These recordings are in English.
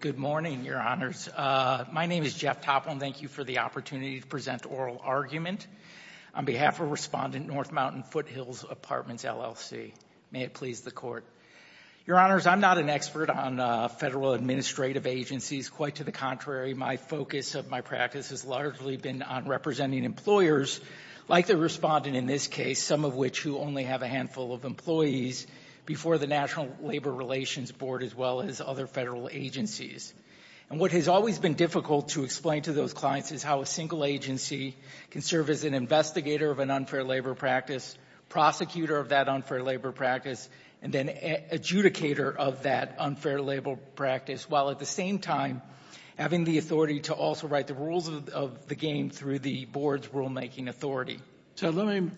Good morning, Your Honors. My name is Jeff Topham. Thank you for the opportunity to present Oral Argument. On behalf of Respondent North Mountain Foothills Apartments, LLC, may it please the Court. Your Honors, I'm not an expert on federal administrative agencies. Quite to the contrary, my focus of my practice has largely been on representing employers, like the respondent in this case, some of which who only have a handful of employees, before the National Labor Relations Board as well as other federal agencies. And what has always been difficult to explain to those clients is how a single agency can serve as an investigator of an unfair labor practice, prosecutor of that unfair labor practice, and then adjudicator of that unfair labor practice, while at the same time having the authority to also write the rules of the game through the board's rulemaking authority. So let me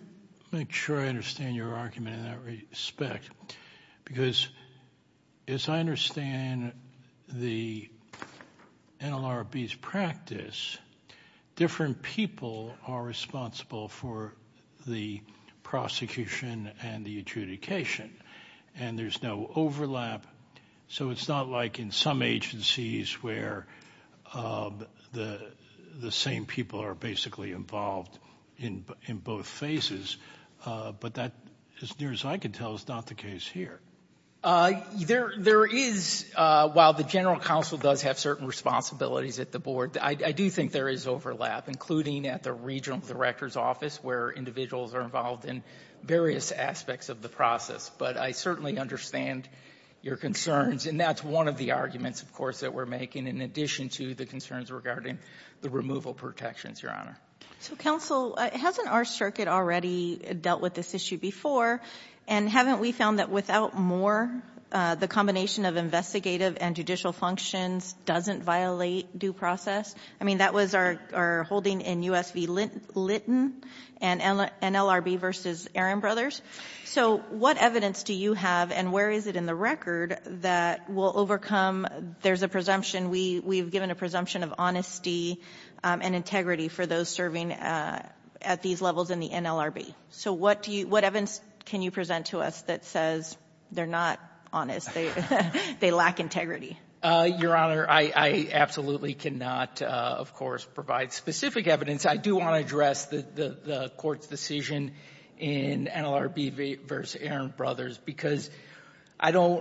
make sure I understand your argument in that respect, because as I understand the NLRB's practice, different people are responsible for the prosecution and the adjudication, and there's no overlap. So it's not like in some agencies where the same people are basically involved in both phases, but that, as near as I can tell, is not the case here. There is, while the General Counsel does have certain responsibilities at the board, I do think there is overlap, including at the Regional Director's Office, where individuals are involved in various aspects of the process. But I certainly understand your concerns. And that's one of the arguments, of course, that we're making in addition to the concerns regarding the removal protections, Your Honor. So, counsel, hasn't our circuit already dealt with this issue before? And haven't we found that without more, the combination of investigative and judicial functions doesn't violate due process? I mean, that was our holding in U.S. v. Litton and NLRB v. Aaron Brothers. So what evidence do you have, and where is it in the record, that will overcome there's a presumption, we've given a presumption of honesty and integrity for those serving at these levels in the NLRB? So what evidence can you present to us that says they're not honest, they lack integrity? Your Honor, I absolutely cannot, of course, provide specific evidence. I do want to address the Court's decision in NLRB v. Aaron Brothers, because I don't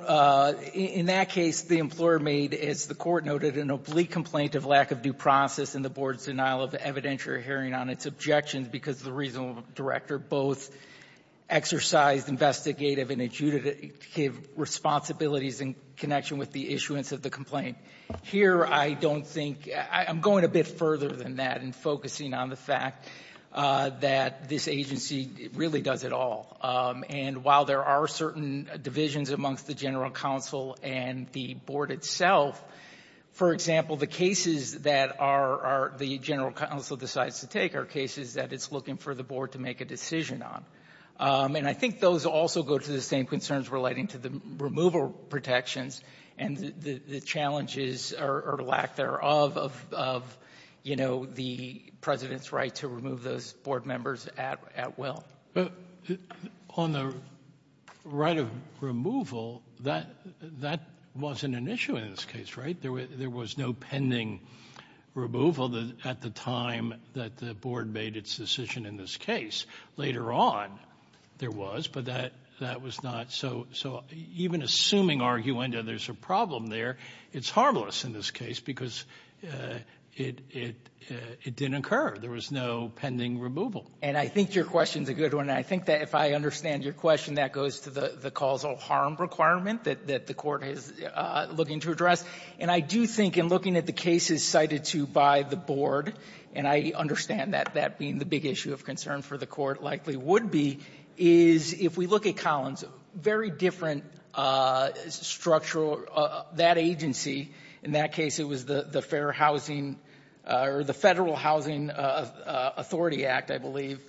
– in that case, the employer made, as the Court noted, an oblique complaint of lack of due process in the Board's denial of evidentiary hearing on its objections because the Regional Director both exercised investigative and adjudicative responsibilities in connection with the issuance of the complaint. Here, I don't think – I'm going a bit further than that in focusing on the fact that this agency really does it all. And while there are certain divisions amongst the General Counsel and the Board itself, for example, the cases that are – the General Counsel decides to take are cases that it's looking for the Board to make a decision on. And I think those also go to the same concerns relating to the removal protections and the challenges or lack thereof of, you know, the President's right to remove those Board members at will. But on the right of removal, that wasn't an issue in this case, right? There was no pending removal at the time that the Board made its decision in this case. Later on, there was, but that was not – so even assuming arguenda there's a problem there, it's harmless in this case because it didn't occur. There was no pending removal. And I think your question's a good one. I think that if I understand your question, that goes to the causal harm requirement that the Court is looking to address. And I do think in looking at the cases cited to by the Board, and I understand that being the big issue of concern for the Court, likely would be, is if we look at Collins, very different structural – that agency, in that case it was the Fair Housing or the Federal Housing Authority Act, I believe,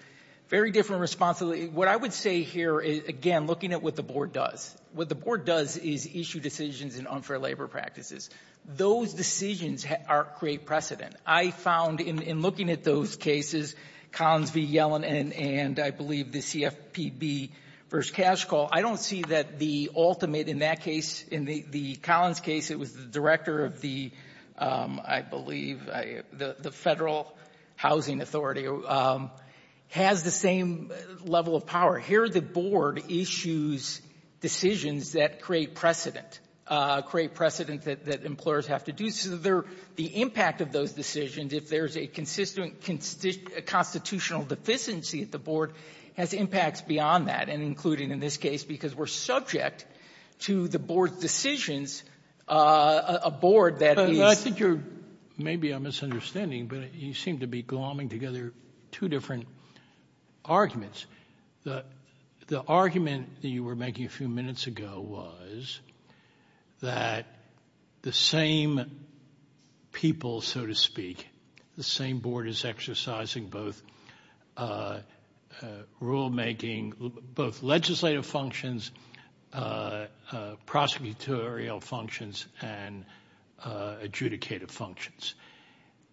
very different responsibility. What I would say here is, again, looking at what the Board does. What the Board does is issue decisions in unfair labor practices. Those decisions create precedent. I found in looking at those cases, Collins v. Yellen and, I believe, the CFPB v. Cash Call, I don't see that the ultimate in that case, in the Collins case, it was the director of the, I believe, the Federal Housing Authority, has the same level of power. Here the Board issues decisions that create precedent, create precedent that employers have to do. So the impact of those decisions, if there's a consistent constitutional deficiency at the Board, has impacts beyond that, and including in this case, because we're subject to the Board's decisions, a Board that is – Sotomayor, I think you're – maybe I'm misunderstanding, but you seem to be glomming together two different arguments. The argument that you were making a few minutes ago was that the same people, so to speak, the same Board is exercising both rulemaking, both legislative functions, prosecutorial functions, and adjudicative functions.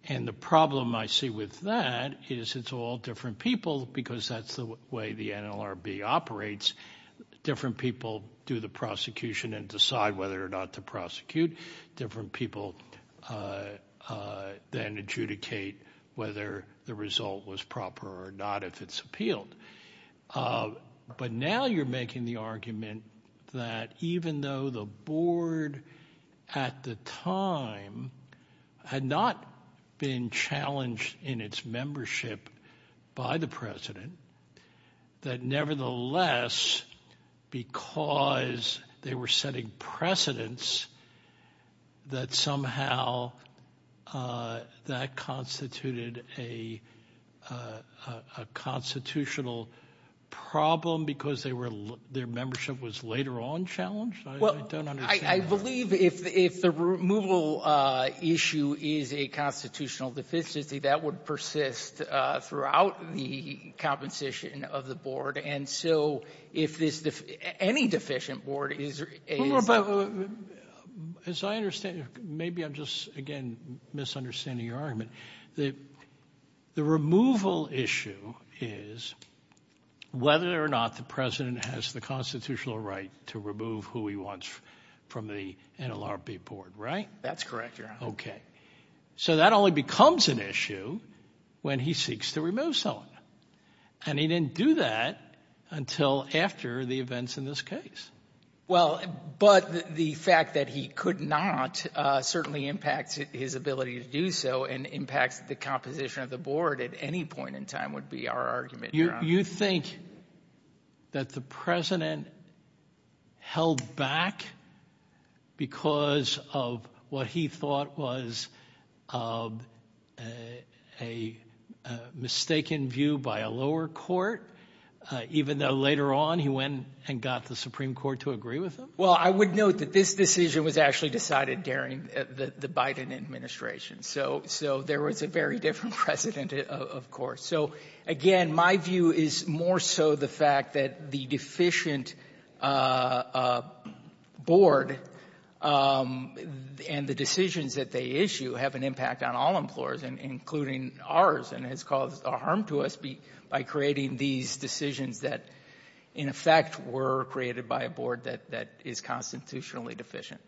And the problem I see with that is it's all different people because that's the way the NLRB operates. Different people do the prosecution and decide whether or not to prosecute. Different people then adjudicate whether the result was proper or not, if it's appealed. But now you're making the argument that even though the Board, at the time, had not been challenged in its membership by the President, that nevertheless, because they were setting precedents, that somehow that constituted a constitutional problem because their membership was later on challenged? I don't understand that. I believe if the removal issue is a constitutional deficiency, that would persist throughout the composition of the Board. And so if this – any deficient Board is – As I understand – maybe I'm just, again, misunderstanding your argument. The removal issue is whether or not the President has the constitutional right to remove who he wants from the NLRB Board, right? That's correct, Your Honor. Okay. So that only becomes an issue when he seeks to remove someone. And he didn't do that until after the events in this case. Well, but the fact that he could not certainly impacts his ability to do so and impacts the composition of the Board at any point in time would be our argument, Your Honor. You think that the President held back because of what he thought was a mistaken view by a lower court, even though later on he went and got the Supreme Court to agree with him? Well, I would note that this decision was actually decided during the Biden administration. So there was a very different precedent, of course. So, again, my view is more so the fact that the deficient Board and the decisions that they issue have an impact on all employers, including ours, and has caused harm to us by creating these decisions that, in effect, were created by a Board that is constitutionally deficient.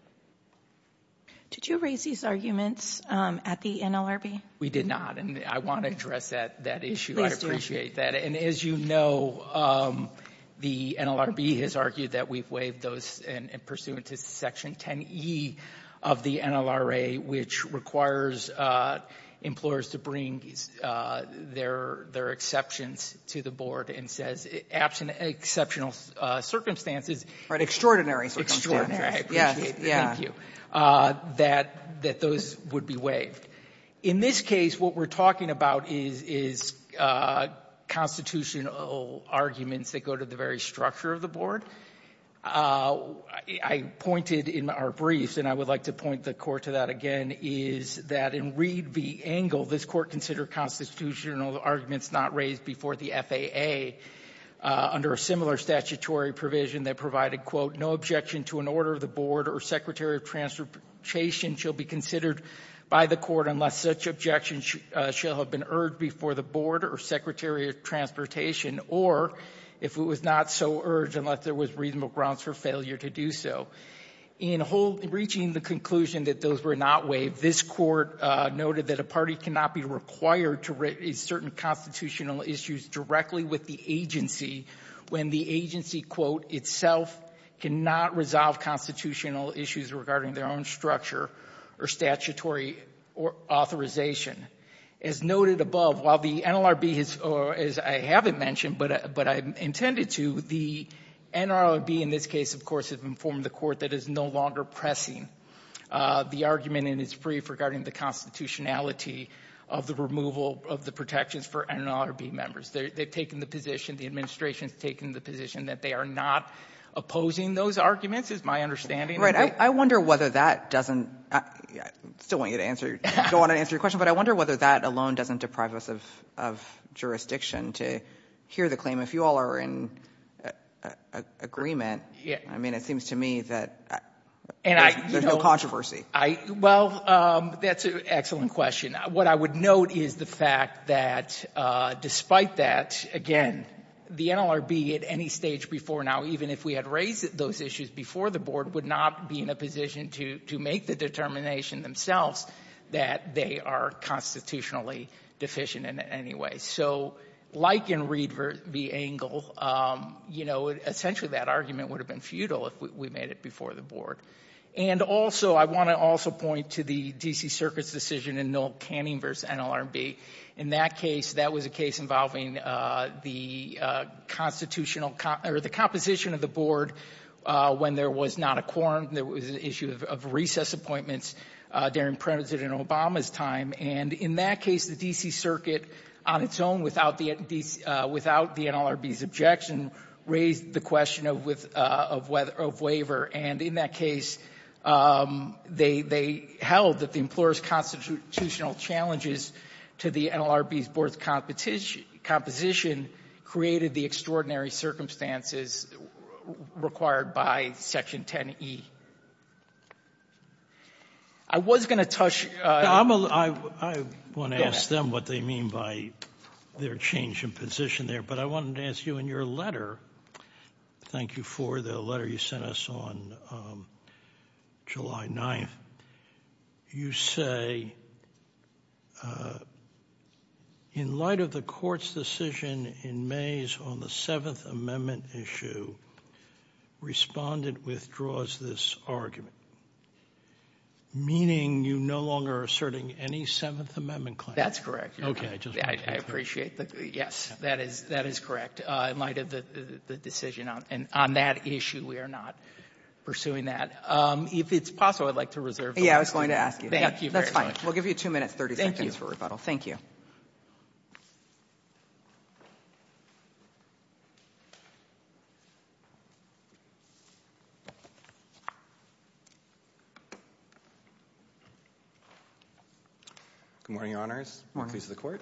Did you raise these arguments at the NLRB? We did not, and I want to address that issue. I appreciate that. And as you know, the NLRB has argued that we've waived those, and pursuant to Section 10e of the NLRA, which requires employers to bring their exceptions to the Board and says exceptional circumstances. Right. Extraordinary circumstances. Extraordinary. I appreciate that. Thank you. Yeah. That those would be waived. In this case, what we're talking about is constitutional arguments that go to the very structure of the Board. I pointed in our briefs, and I would like to point the Court to that again, is that in Reed v. Engel, this Court considered constitutional arguments not raised before the FAA under a similar statutory provision that provided, quote, no objection to an order of the Board or Secretary of Transportation shall be considered by the Court unless such objections shall have been urged before the Board or Secretary of Transportation or if it was not so urged unless there was reasonable grounds for failure to do so. In reaching the conclusion that those were not waived, this Court noted that a party cannot be required to raise certain constitutional issues directly with the agency when the agency, quote, itself cannot resolve constitutional issues regarding their own structure or statutory authorization. As noted above, while the NLRB, as I haven't mentioned but I intended to, the NLRB in this case, of course, has informed the Court that is no longer pressing the argument in its brief regarding the constitutionality of the removal of the protections for NLRB members. They've taken the position, the administration's taken the position that they are not opposing those arguments, is my understanding. I wonder whether that doesn't, I still want you to answer, I don't want to answer your question, but I wonder whether that alone doesn't deprive us of jurisdiction to hear the claim. If you all are in agreement, I mean, it seems to me that there's no controversy. Well, that's an excellent question. What I would note is the fact that despite that, again, the NLRB at any stage before now, even if we had raised those issues before the Board, would not be in a position to make the determination themselves that they are constitutionally deficient in any way. So like in Reed v. Engel, you know, essentially that argument would have been futile if we made it before the Board. And also, I want to also point to the D.C. Circuit's decision in Knoll-Canning v. NLRB. In that case, that was a case involving the constitutional, or the composition of the Board when there was not a quorum, there was an issue of recess appointments during President Obama's time. And in that case, the D.C. Circuit, on its own, without the NLRB's objection, raised the question of waiver. And in that case, they held that the employer's constitutional challenges to the NLRB's Board's composition created the extraordinary circumstances required by Section 10e. I was going to touch — I want to ask them what they mean by their change in position there. But I wanted to ask you, in your letter — thank you for the letter you sent us on July 9th — you say, in light of the Court's decision in May on the Seventh Amendment issue, Respondent withdraws this argument, meaning you no longer are asserting any Seventh Amendment claim. That's correct. Okay. I appreciate that. Yes, that is correct. In light of the decision on that issue, we are not pursuing that. If it's possible, I'd like to reserve the floor. Yeah, I was going to ask you that. Thank you very much. That's fine. We'll give you 2 minutes, 30 seconds for rebuttal. Thank you. Thank you. Good morning, Your Honors. Good morning. Good morning, colleagues of the Court.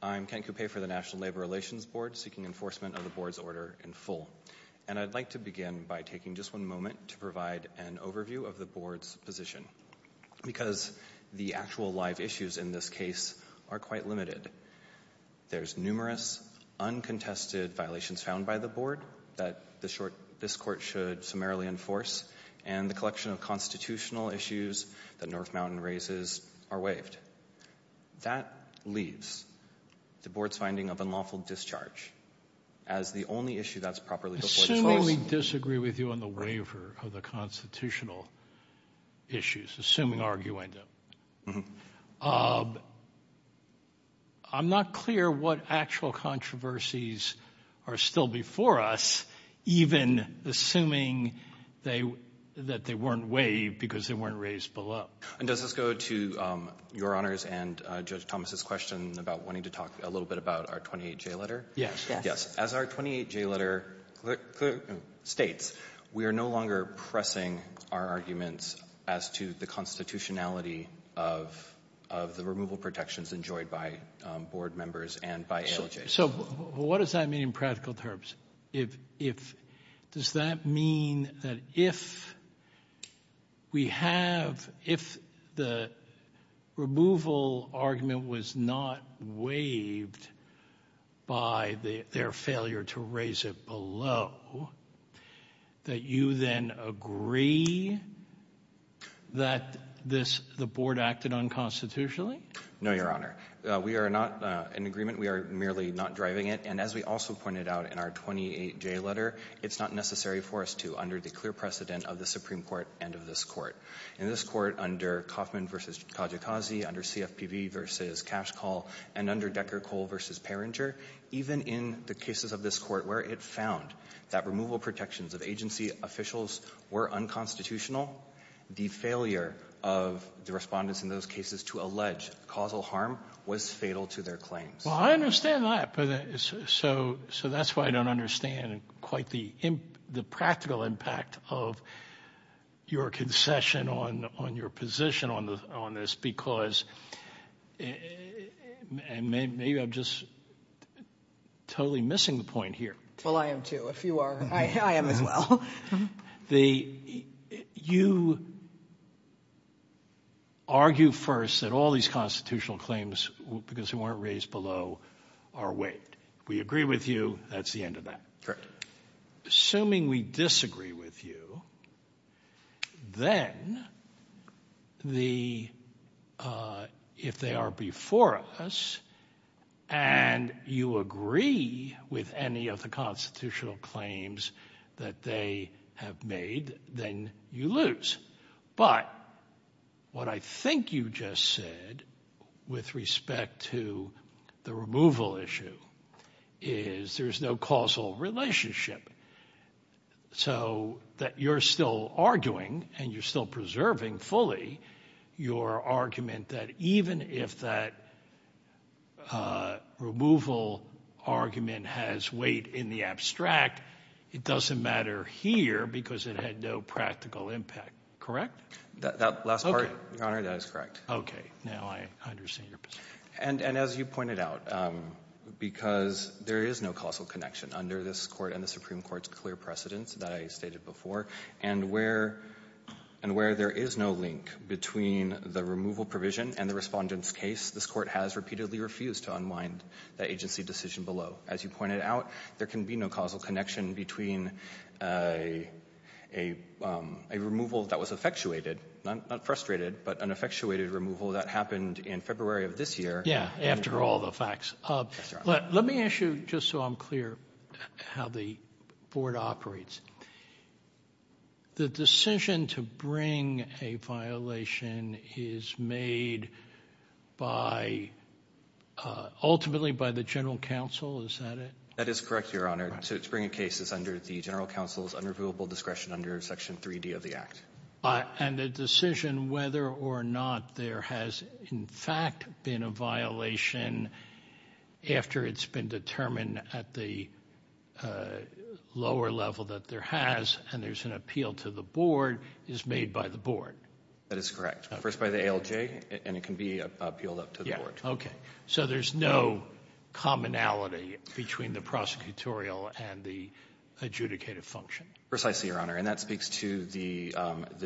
I'm Kent Coupe for the National Labor Relations Board, seeking enforcement of the Board's order in full. And I'd like to begin by taking just one moment to provide an overview of the Board's position, because the actual live issues in this case are quite limited. There's numerous uncontested violations found by the Board that this Court should summarily enforce, and the collection of constitutional issues that North Mountain raises are waived. That leaves the Board's finding of unlawful discharge as the only issue that's properly before this House. Assuming we disagree with you on the waiver of the constitutional issues, assuming arguing them, I'm not clear what actual controversies are still before us, even assuming that they weren't waived because they weren't raised below. And does this go to Your Honors and Judge Thomas's question about wanting to talk a little bit about our 28J letter? Yes. Yes. As our 28J letter states, we are no longer pressing our arguments as to the constitutionality of the removal protections enjoyed by Board members and by ALJ. So what does that mean in practical terms? Does that mean that if we have, if the removal argument was not waived by their failure to raise it below, that you then agree that the Board acted unconstitutionally? No, Your Honor. We are not in agreement. We are merely not driving it. And as we also pointed out in our 28J letter, it's not necessary for us to under the clear precedent of the Supreme Court and of this Court. In this Court, under Kaufman v. Kajikazi, under CFPB v. Cash Call, and under Decker-Cole v. Perringer, even in the cases of this Court where it found that removal protections of agency officials were unconstitutional, the failure of the Respondents in those cases to allege causal harm was fatal to their claims. Well, I understand that. So that's why I don't understand quite the practical impact of your concession on your position on this because maybe I'm just totally missing the point here. Well, I am too. If you are, I am as well. You argue first that all these constitutional claims, because they weren't raised below, are waived. We agree with you. That's the end of that. Assuming we disagree with you, then if they are before us and you agree with any of the constitutional claims that they have made, then you lose. But what I think you just said with respect to the removal issue is there's no causal relationship. So that you're still arguing and you're still preserving fully your argument that even if that removal argument has weight in the abstract, it doesn't matter here because it had no practical impact. Correct? That last part, Your Honor, that is correct. Okay. Now I understand your position. And as you pointed out, because there is no causal connection under this Court and the Supreme Court's clear precedence that I stated before, and where there is no link between the removal provision and the Respondents' case, this Court has repeatedly refused to unwind the agency decision below. As you pointed out, there can be no causal connection between a removal that was effectuated, not frustrated, but an effectuated removal that happened in February of this year. Yeah, after all the facts. Let me ask you, just so I'm clear, how the Board operates. The decision to bring a violation is made ultimately by the General Counsel, is that it? That is correct, Your Honor. To bring a case is under the General Counsel's unreviewable discretion under Section 3D of the Act. And the decision whether or not there has, in fact, been a violation after it's been determined at the lower level that there has, and there's an appeal to the Board, is made by the Board? That is correct. First by the ALJ, and it can be appealed up to the Board. Okay. So there's no commonality between the prosecutorial and the adjudicative function? Precisely, Your Honor. And that speaks to the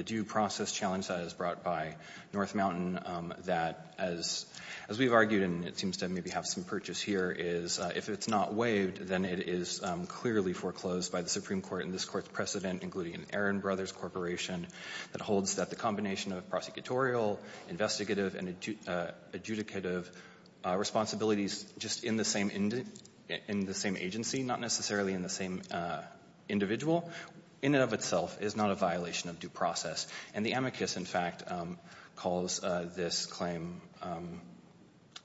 due process challenge that is brought by North Mountain, that as we've argued, and it seems to maybe have some purchase here, is if it's not waived, then it is clearly foreclosed by the Supreme Court and this Court's precedent, including an Aaron Brothers Corporation, that holds that the combination of prosecutorial, investigative, and adjudicative responsibilities just in the same agency, not necessarily in the same individual, in and of itself, is not a violation of due process. And the amicus, in fact, calls this claim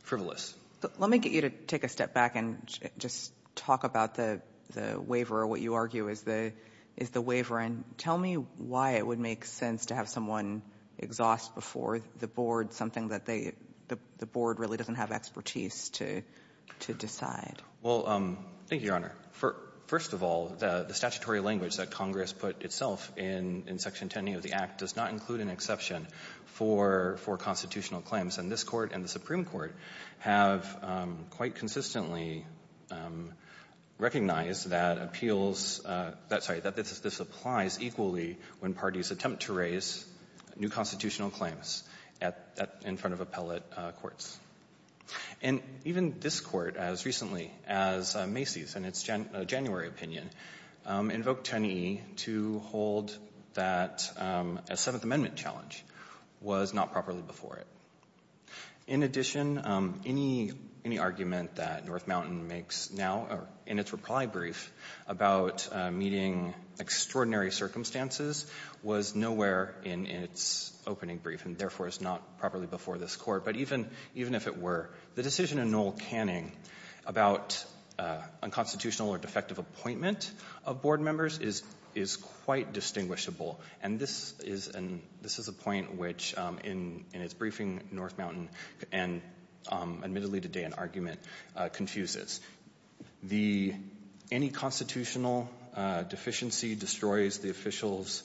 frivolous. Let me get you to take a step back and just talk about the waiver or what you argue is the waiver. And tell me why it would make sense to have someone exhaust before the Board something that the Board really doesn't have expertise to decide. Well, thank you, Your Honor. First of all, the statutory language that Congress put itself in Section 10e of the Act does not include an exception for constitutional claims. And this Court and the Supreme Court have quite consistently recognized that appeals that this applies equally when parties attempt to raise new constitutional claims in front of appellate courts. And even this Court, as recently as Macy's in its January opinion, invoked 10e to hold that a Seventh Amendment challenge was not properly before it. In addition, any argument that North Mountain makes now in its reply brief about meeting extraordinary circumstances was nowhere in its opening brief and, therefore, is not properly before this Court. But even if it were, the decision in Noel Canning about unconstitutional or defective appointment of Board members is quite distinguishable. And this is a point which, in its briefing, North Mountain, and admittedly today, an argument confuses. Any constitutional deficiency destroys the official's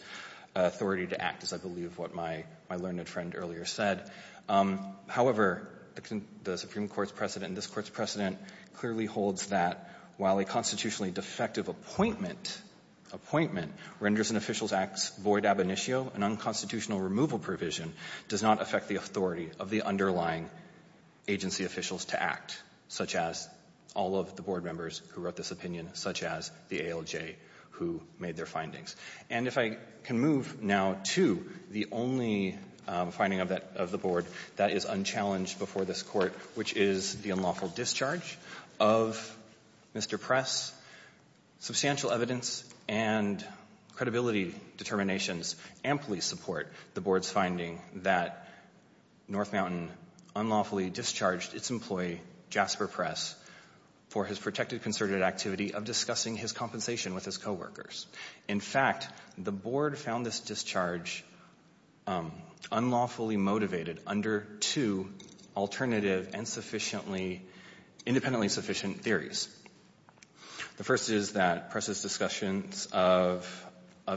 authority to act, as I believe what my learned friend earlier said. However, the Supreme Court's precedent and this Court's precedent clearly holds that while a constitutionally defective appointment, appointment, renders an official's acts void ab initio, an unconstitutional removal provision does not affect the authority of the underlying agency officials to act, such as all of the Board members who wrote this opinion, such as the ALJ, who made their findings. And if I can move now to the only finding of the Board that is unchallenged before this Court, which is the unlawful discharge of Mr. Press. Substantial evidence and credibility determinations amply support the Board's finding that North Mountain unlawfully discharged its employee, Jasper Press, for his protected concerted activity of discussing his compensation with his coworkers. In fact, the Board found this discharge unlawfully motivated under two alternative and sufficiently independently sufficient theories. The first is that Press's discussions of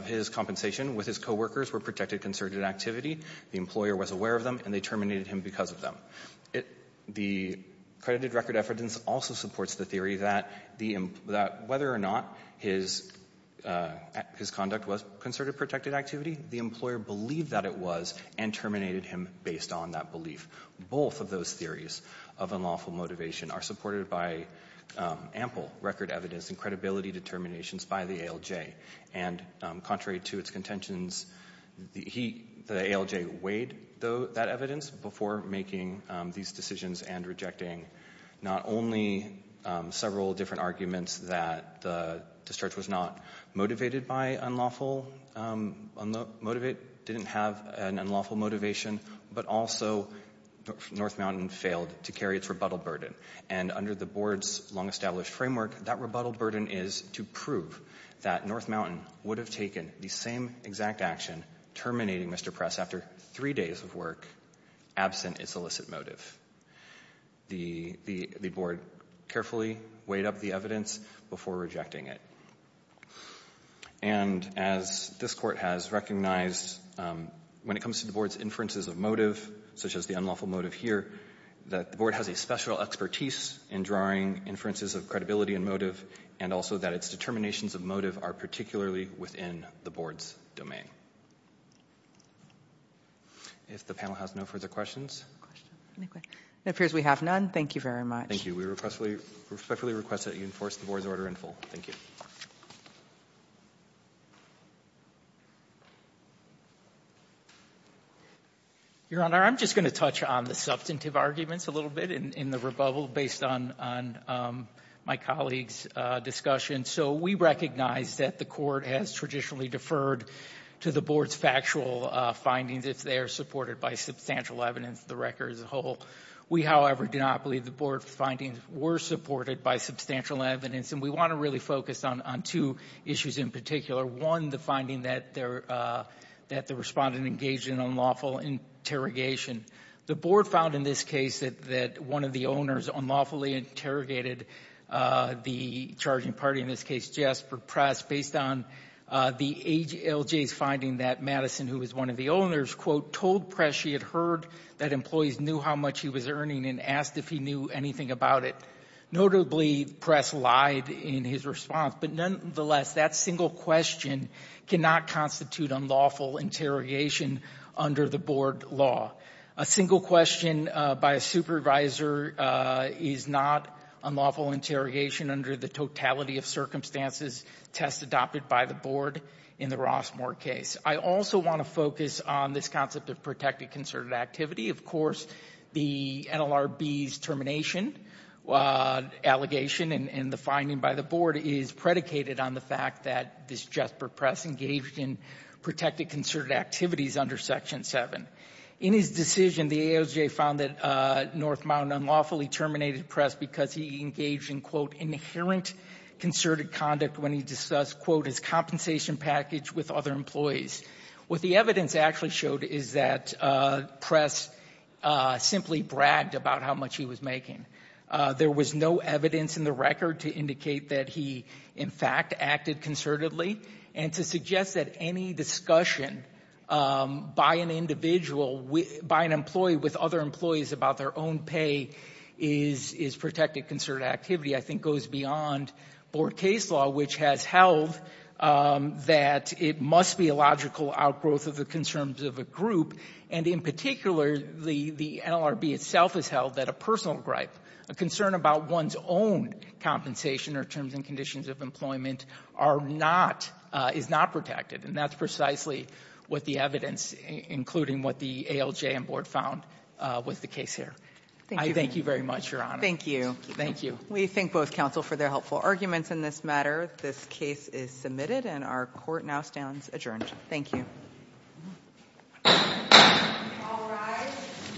his compensation with his coworkers were protected concerted activity. The employer was aware of them, and they terminated him because of them. The credited record evidence also supports the theory that whether or not his conduct was concerted protected activity, the employer believed that it was and terminated him based on that belief. Both of those theories of unlawful motivation are supported by ample record evidence and credibility determinations by the ALJ. And contrary to its contentions, the ALJ weighed that evidence before making these decisions and rejecting not only several different arguments that the discharge was not motivated by unlawful motivation, didn't have an unlawful motivation, but also North Mountain failed to carry its rebuttal burden. And under the Board's long-established framework, that rebuttal burden is to prove that North Mountain would have taken the same exact action, terminating Mr. Press after three days of work, absent its illicit motive. The Board carefully weighed up the evidence before rejecting it. And as this Court has recognized, when it comes to the Board's inferences of motive, such as the unlawful motive here, that the Board has a special expertise in drawing inferences of credibility and motive, and also that its determinations of motive are particularly within the Board's domain. If the panel has no further questions. It appears we have none. Thank you very much. Thank you. We respectfully request that you enforce the Board's order in full. Thank you. Your Honor, I'm just going to touch on the substantive arguments a little bit in the rebuttal based on my colleague's discussion. So we recognize that the Court has traditionally deferred to the Board's factual findings if they are supported by substantial evidence of the record as a whole. We, however, do not believe the Board's findings were supported by substantial evidence, and we want to really focus on two issues in particular. One, the finding that the Respondent engaged in unlawful interrogation. The Board found in this case that one of the owners unlawfully interrogated the charging party, in this case Jasper Press, based on the ALJ's finding that Madison, who was one of the owners, quote, told Press she had heard that employees knew how much he was earning and asked if he knew anything about it. Notably, Press lied in his response, but nonetheless, that single question cannot constitute unlawful interrogation under the Board law. A single question by a supervisor is not unlawful interrogation under the totality of circumstances test adopted by the Board in the Rossmoor case. I also want to focus on this concept of protected concerted activity. Of course, the NLRB's termination allegation and the finding by the Board is predicated on the fact that this Jasper Press engaged in protected concerted activities under Section 7. In his decision, the ALJ found that Northmount unlawfully terminated Press because he engaged in, quote, inherent concerted conduct when he discussed, quote, his compensation package with other employees. What the evidence actually showed is that Press simply bragged about how much he was making. There was no evidence in the record to indicate that he, in fact, acted concertedly. And to suggest that any discussion by an individual, by an employee with other employees about their own pay is protected concerted activity, I think, goes beyond Board case law, which has held that it must be a logical outgrowth of the concerns of a group. And in particular, the NLRB itself has held that a personal gripe, a concern about one's own compensation or terms and conditions of employment are not — is not protected. And that's precisely what the evidence, including what the ALJ and Board found, was the case here. I thank you very much, Your Honor. Thank you. Thank you. We thank both counsel for their helpful arguments in this matter. This case is submitted and our court now stands adjourned. Thank you.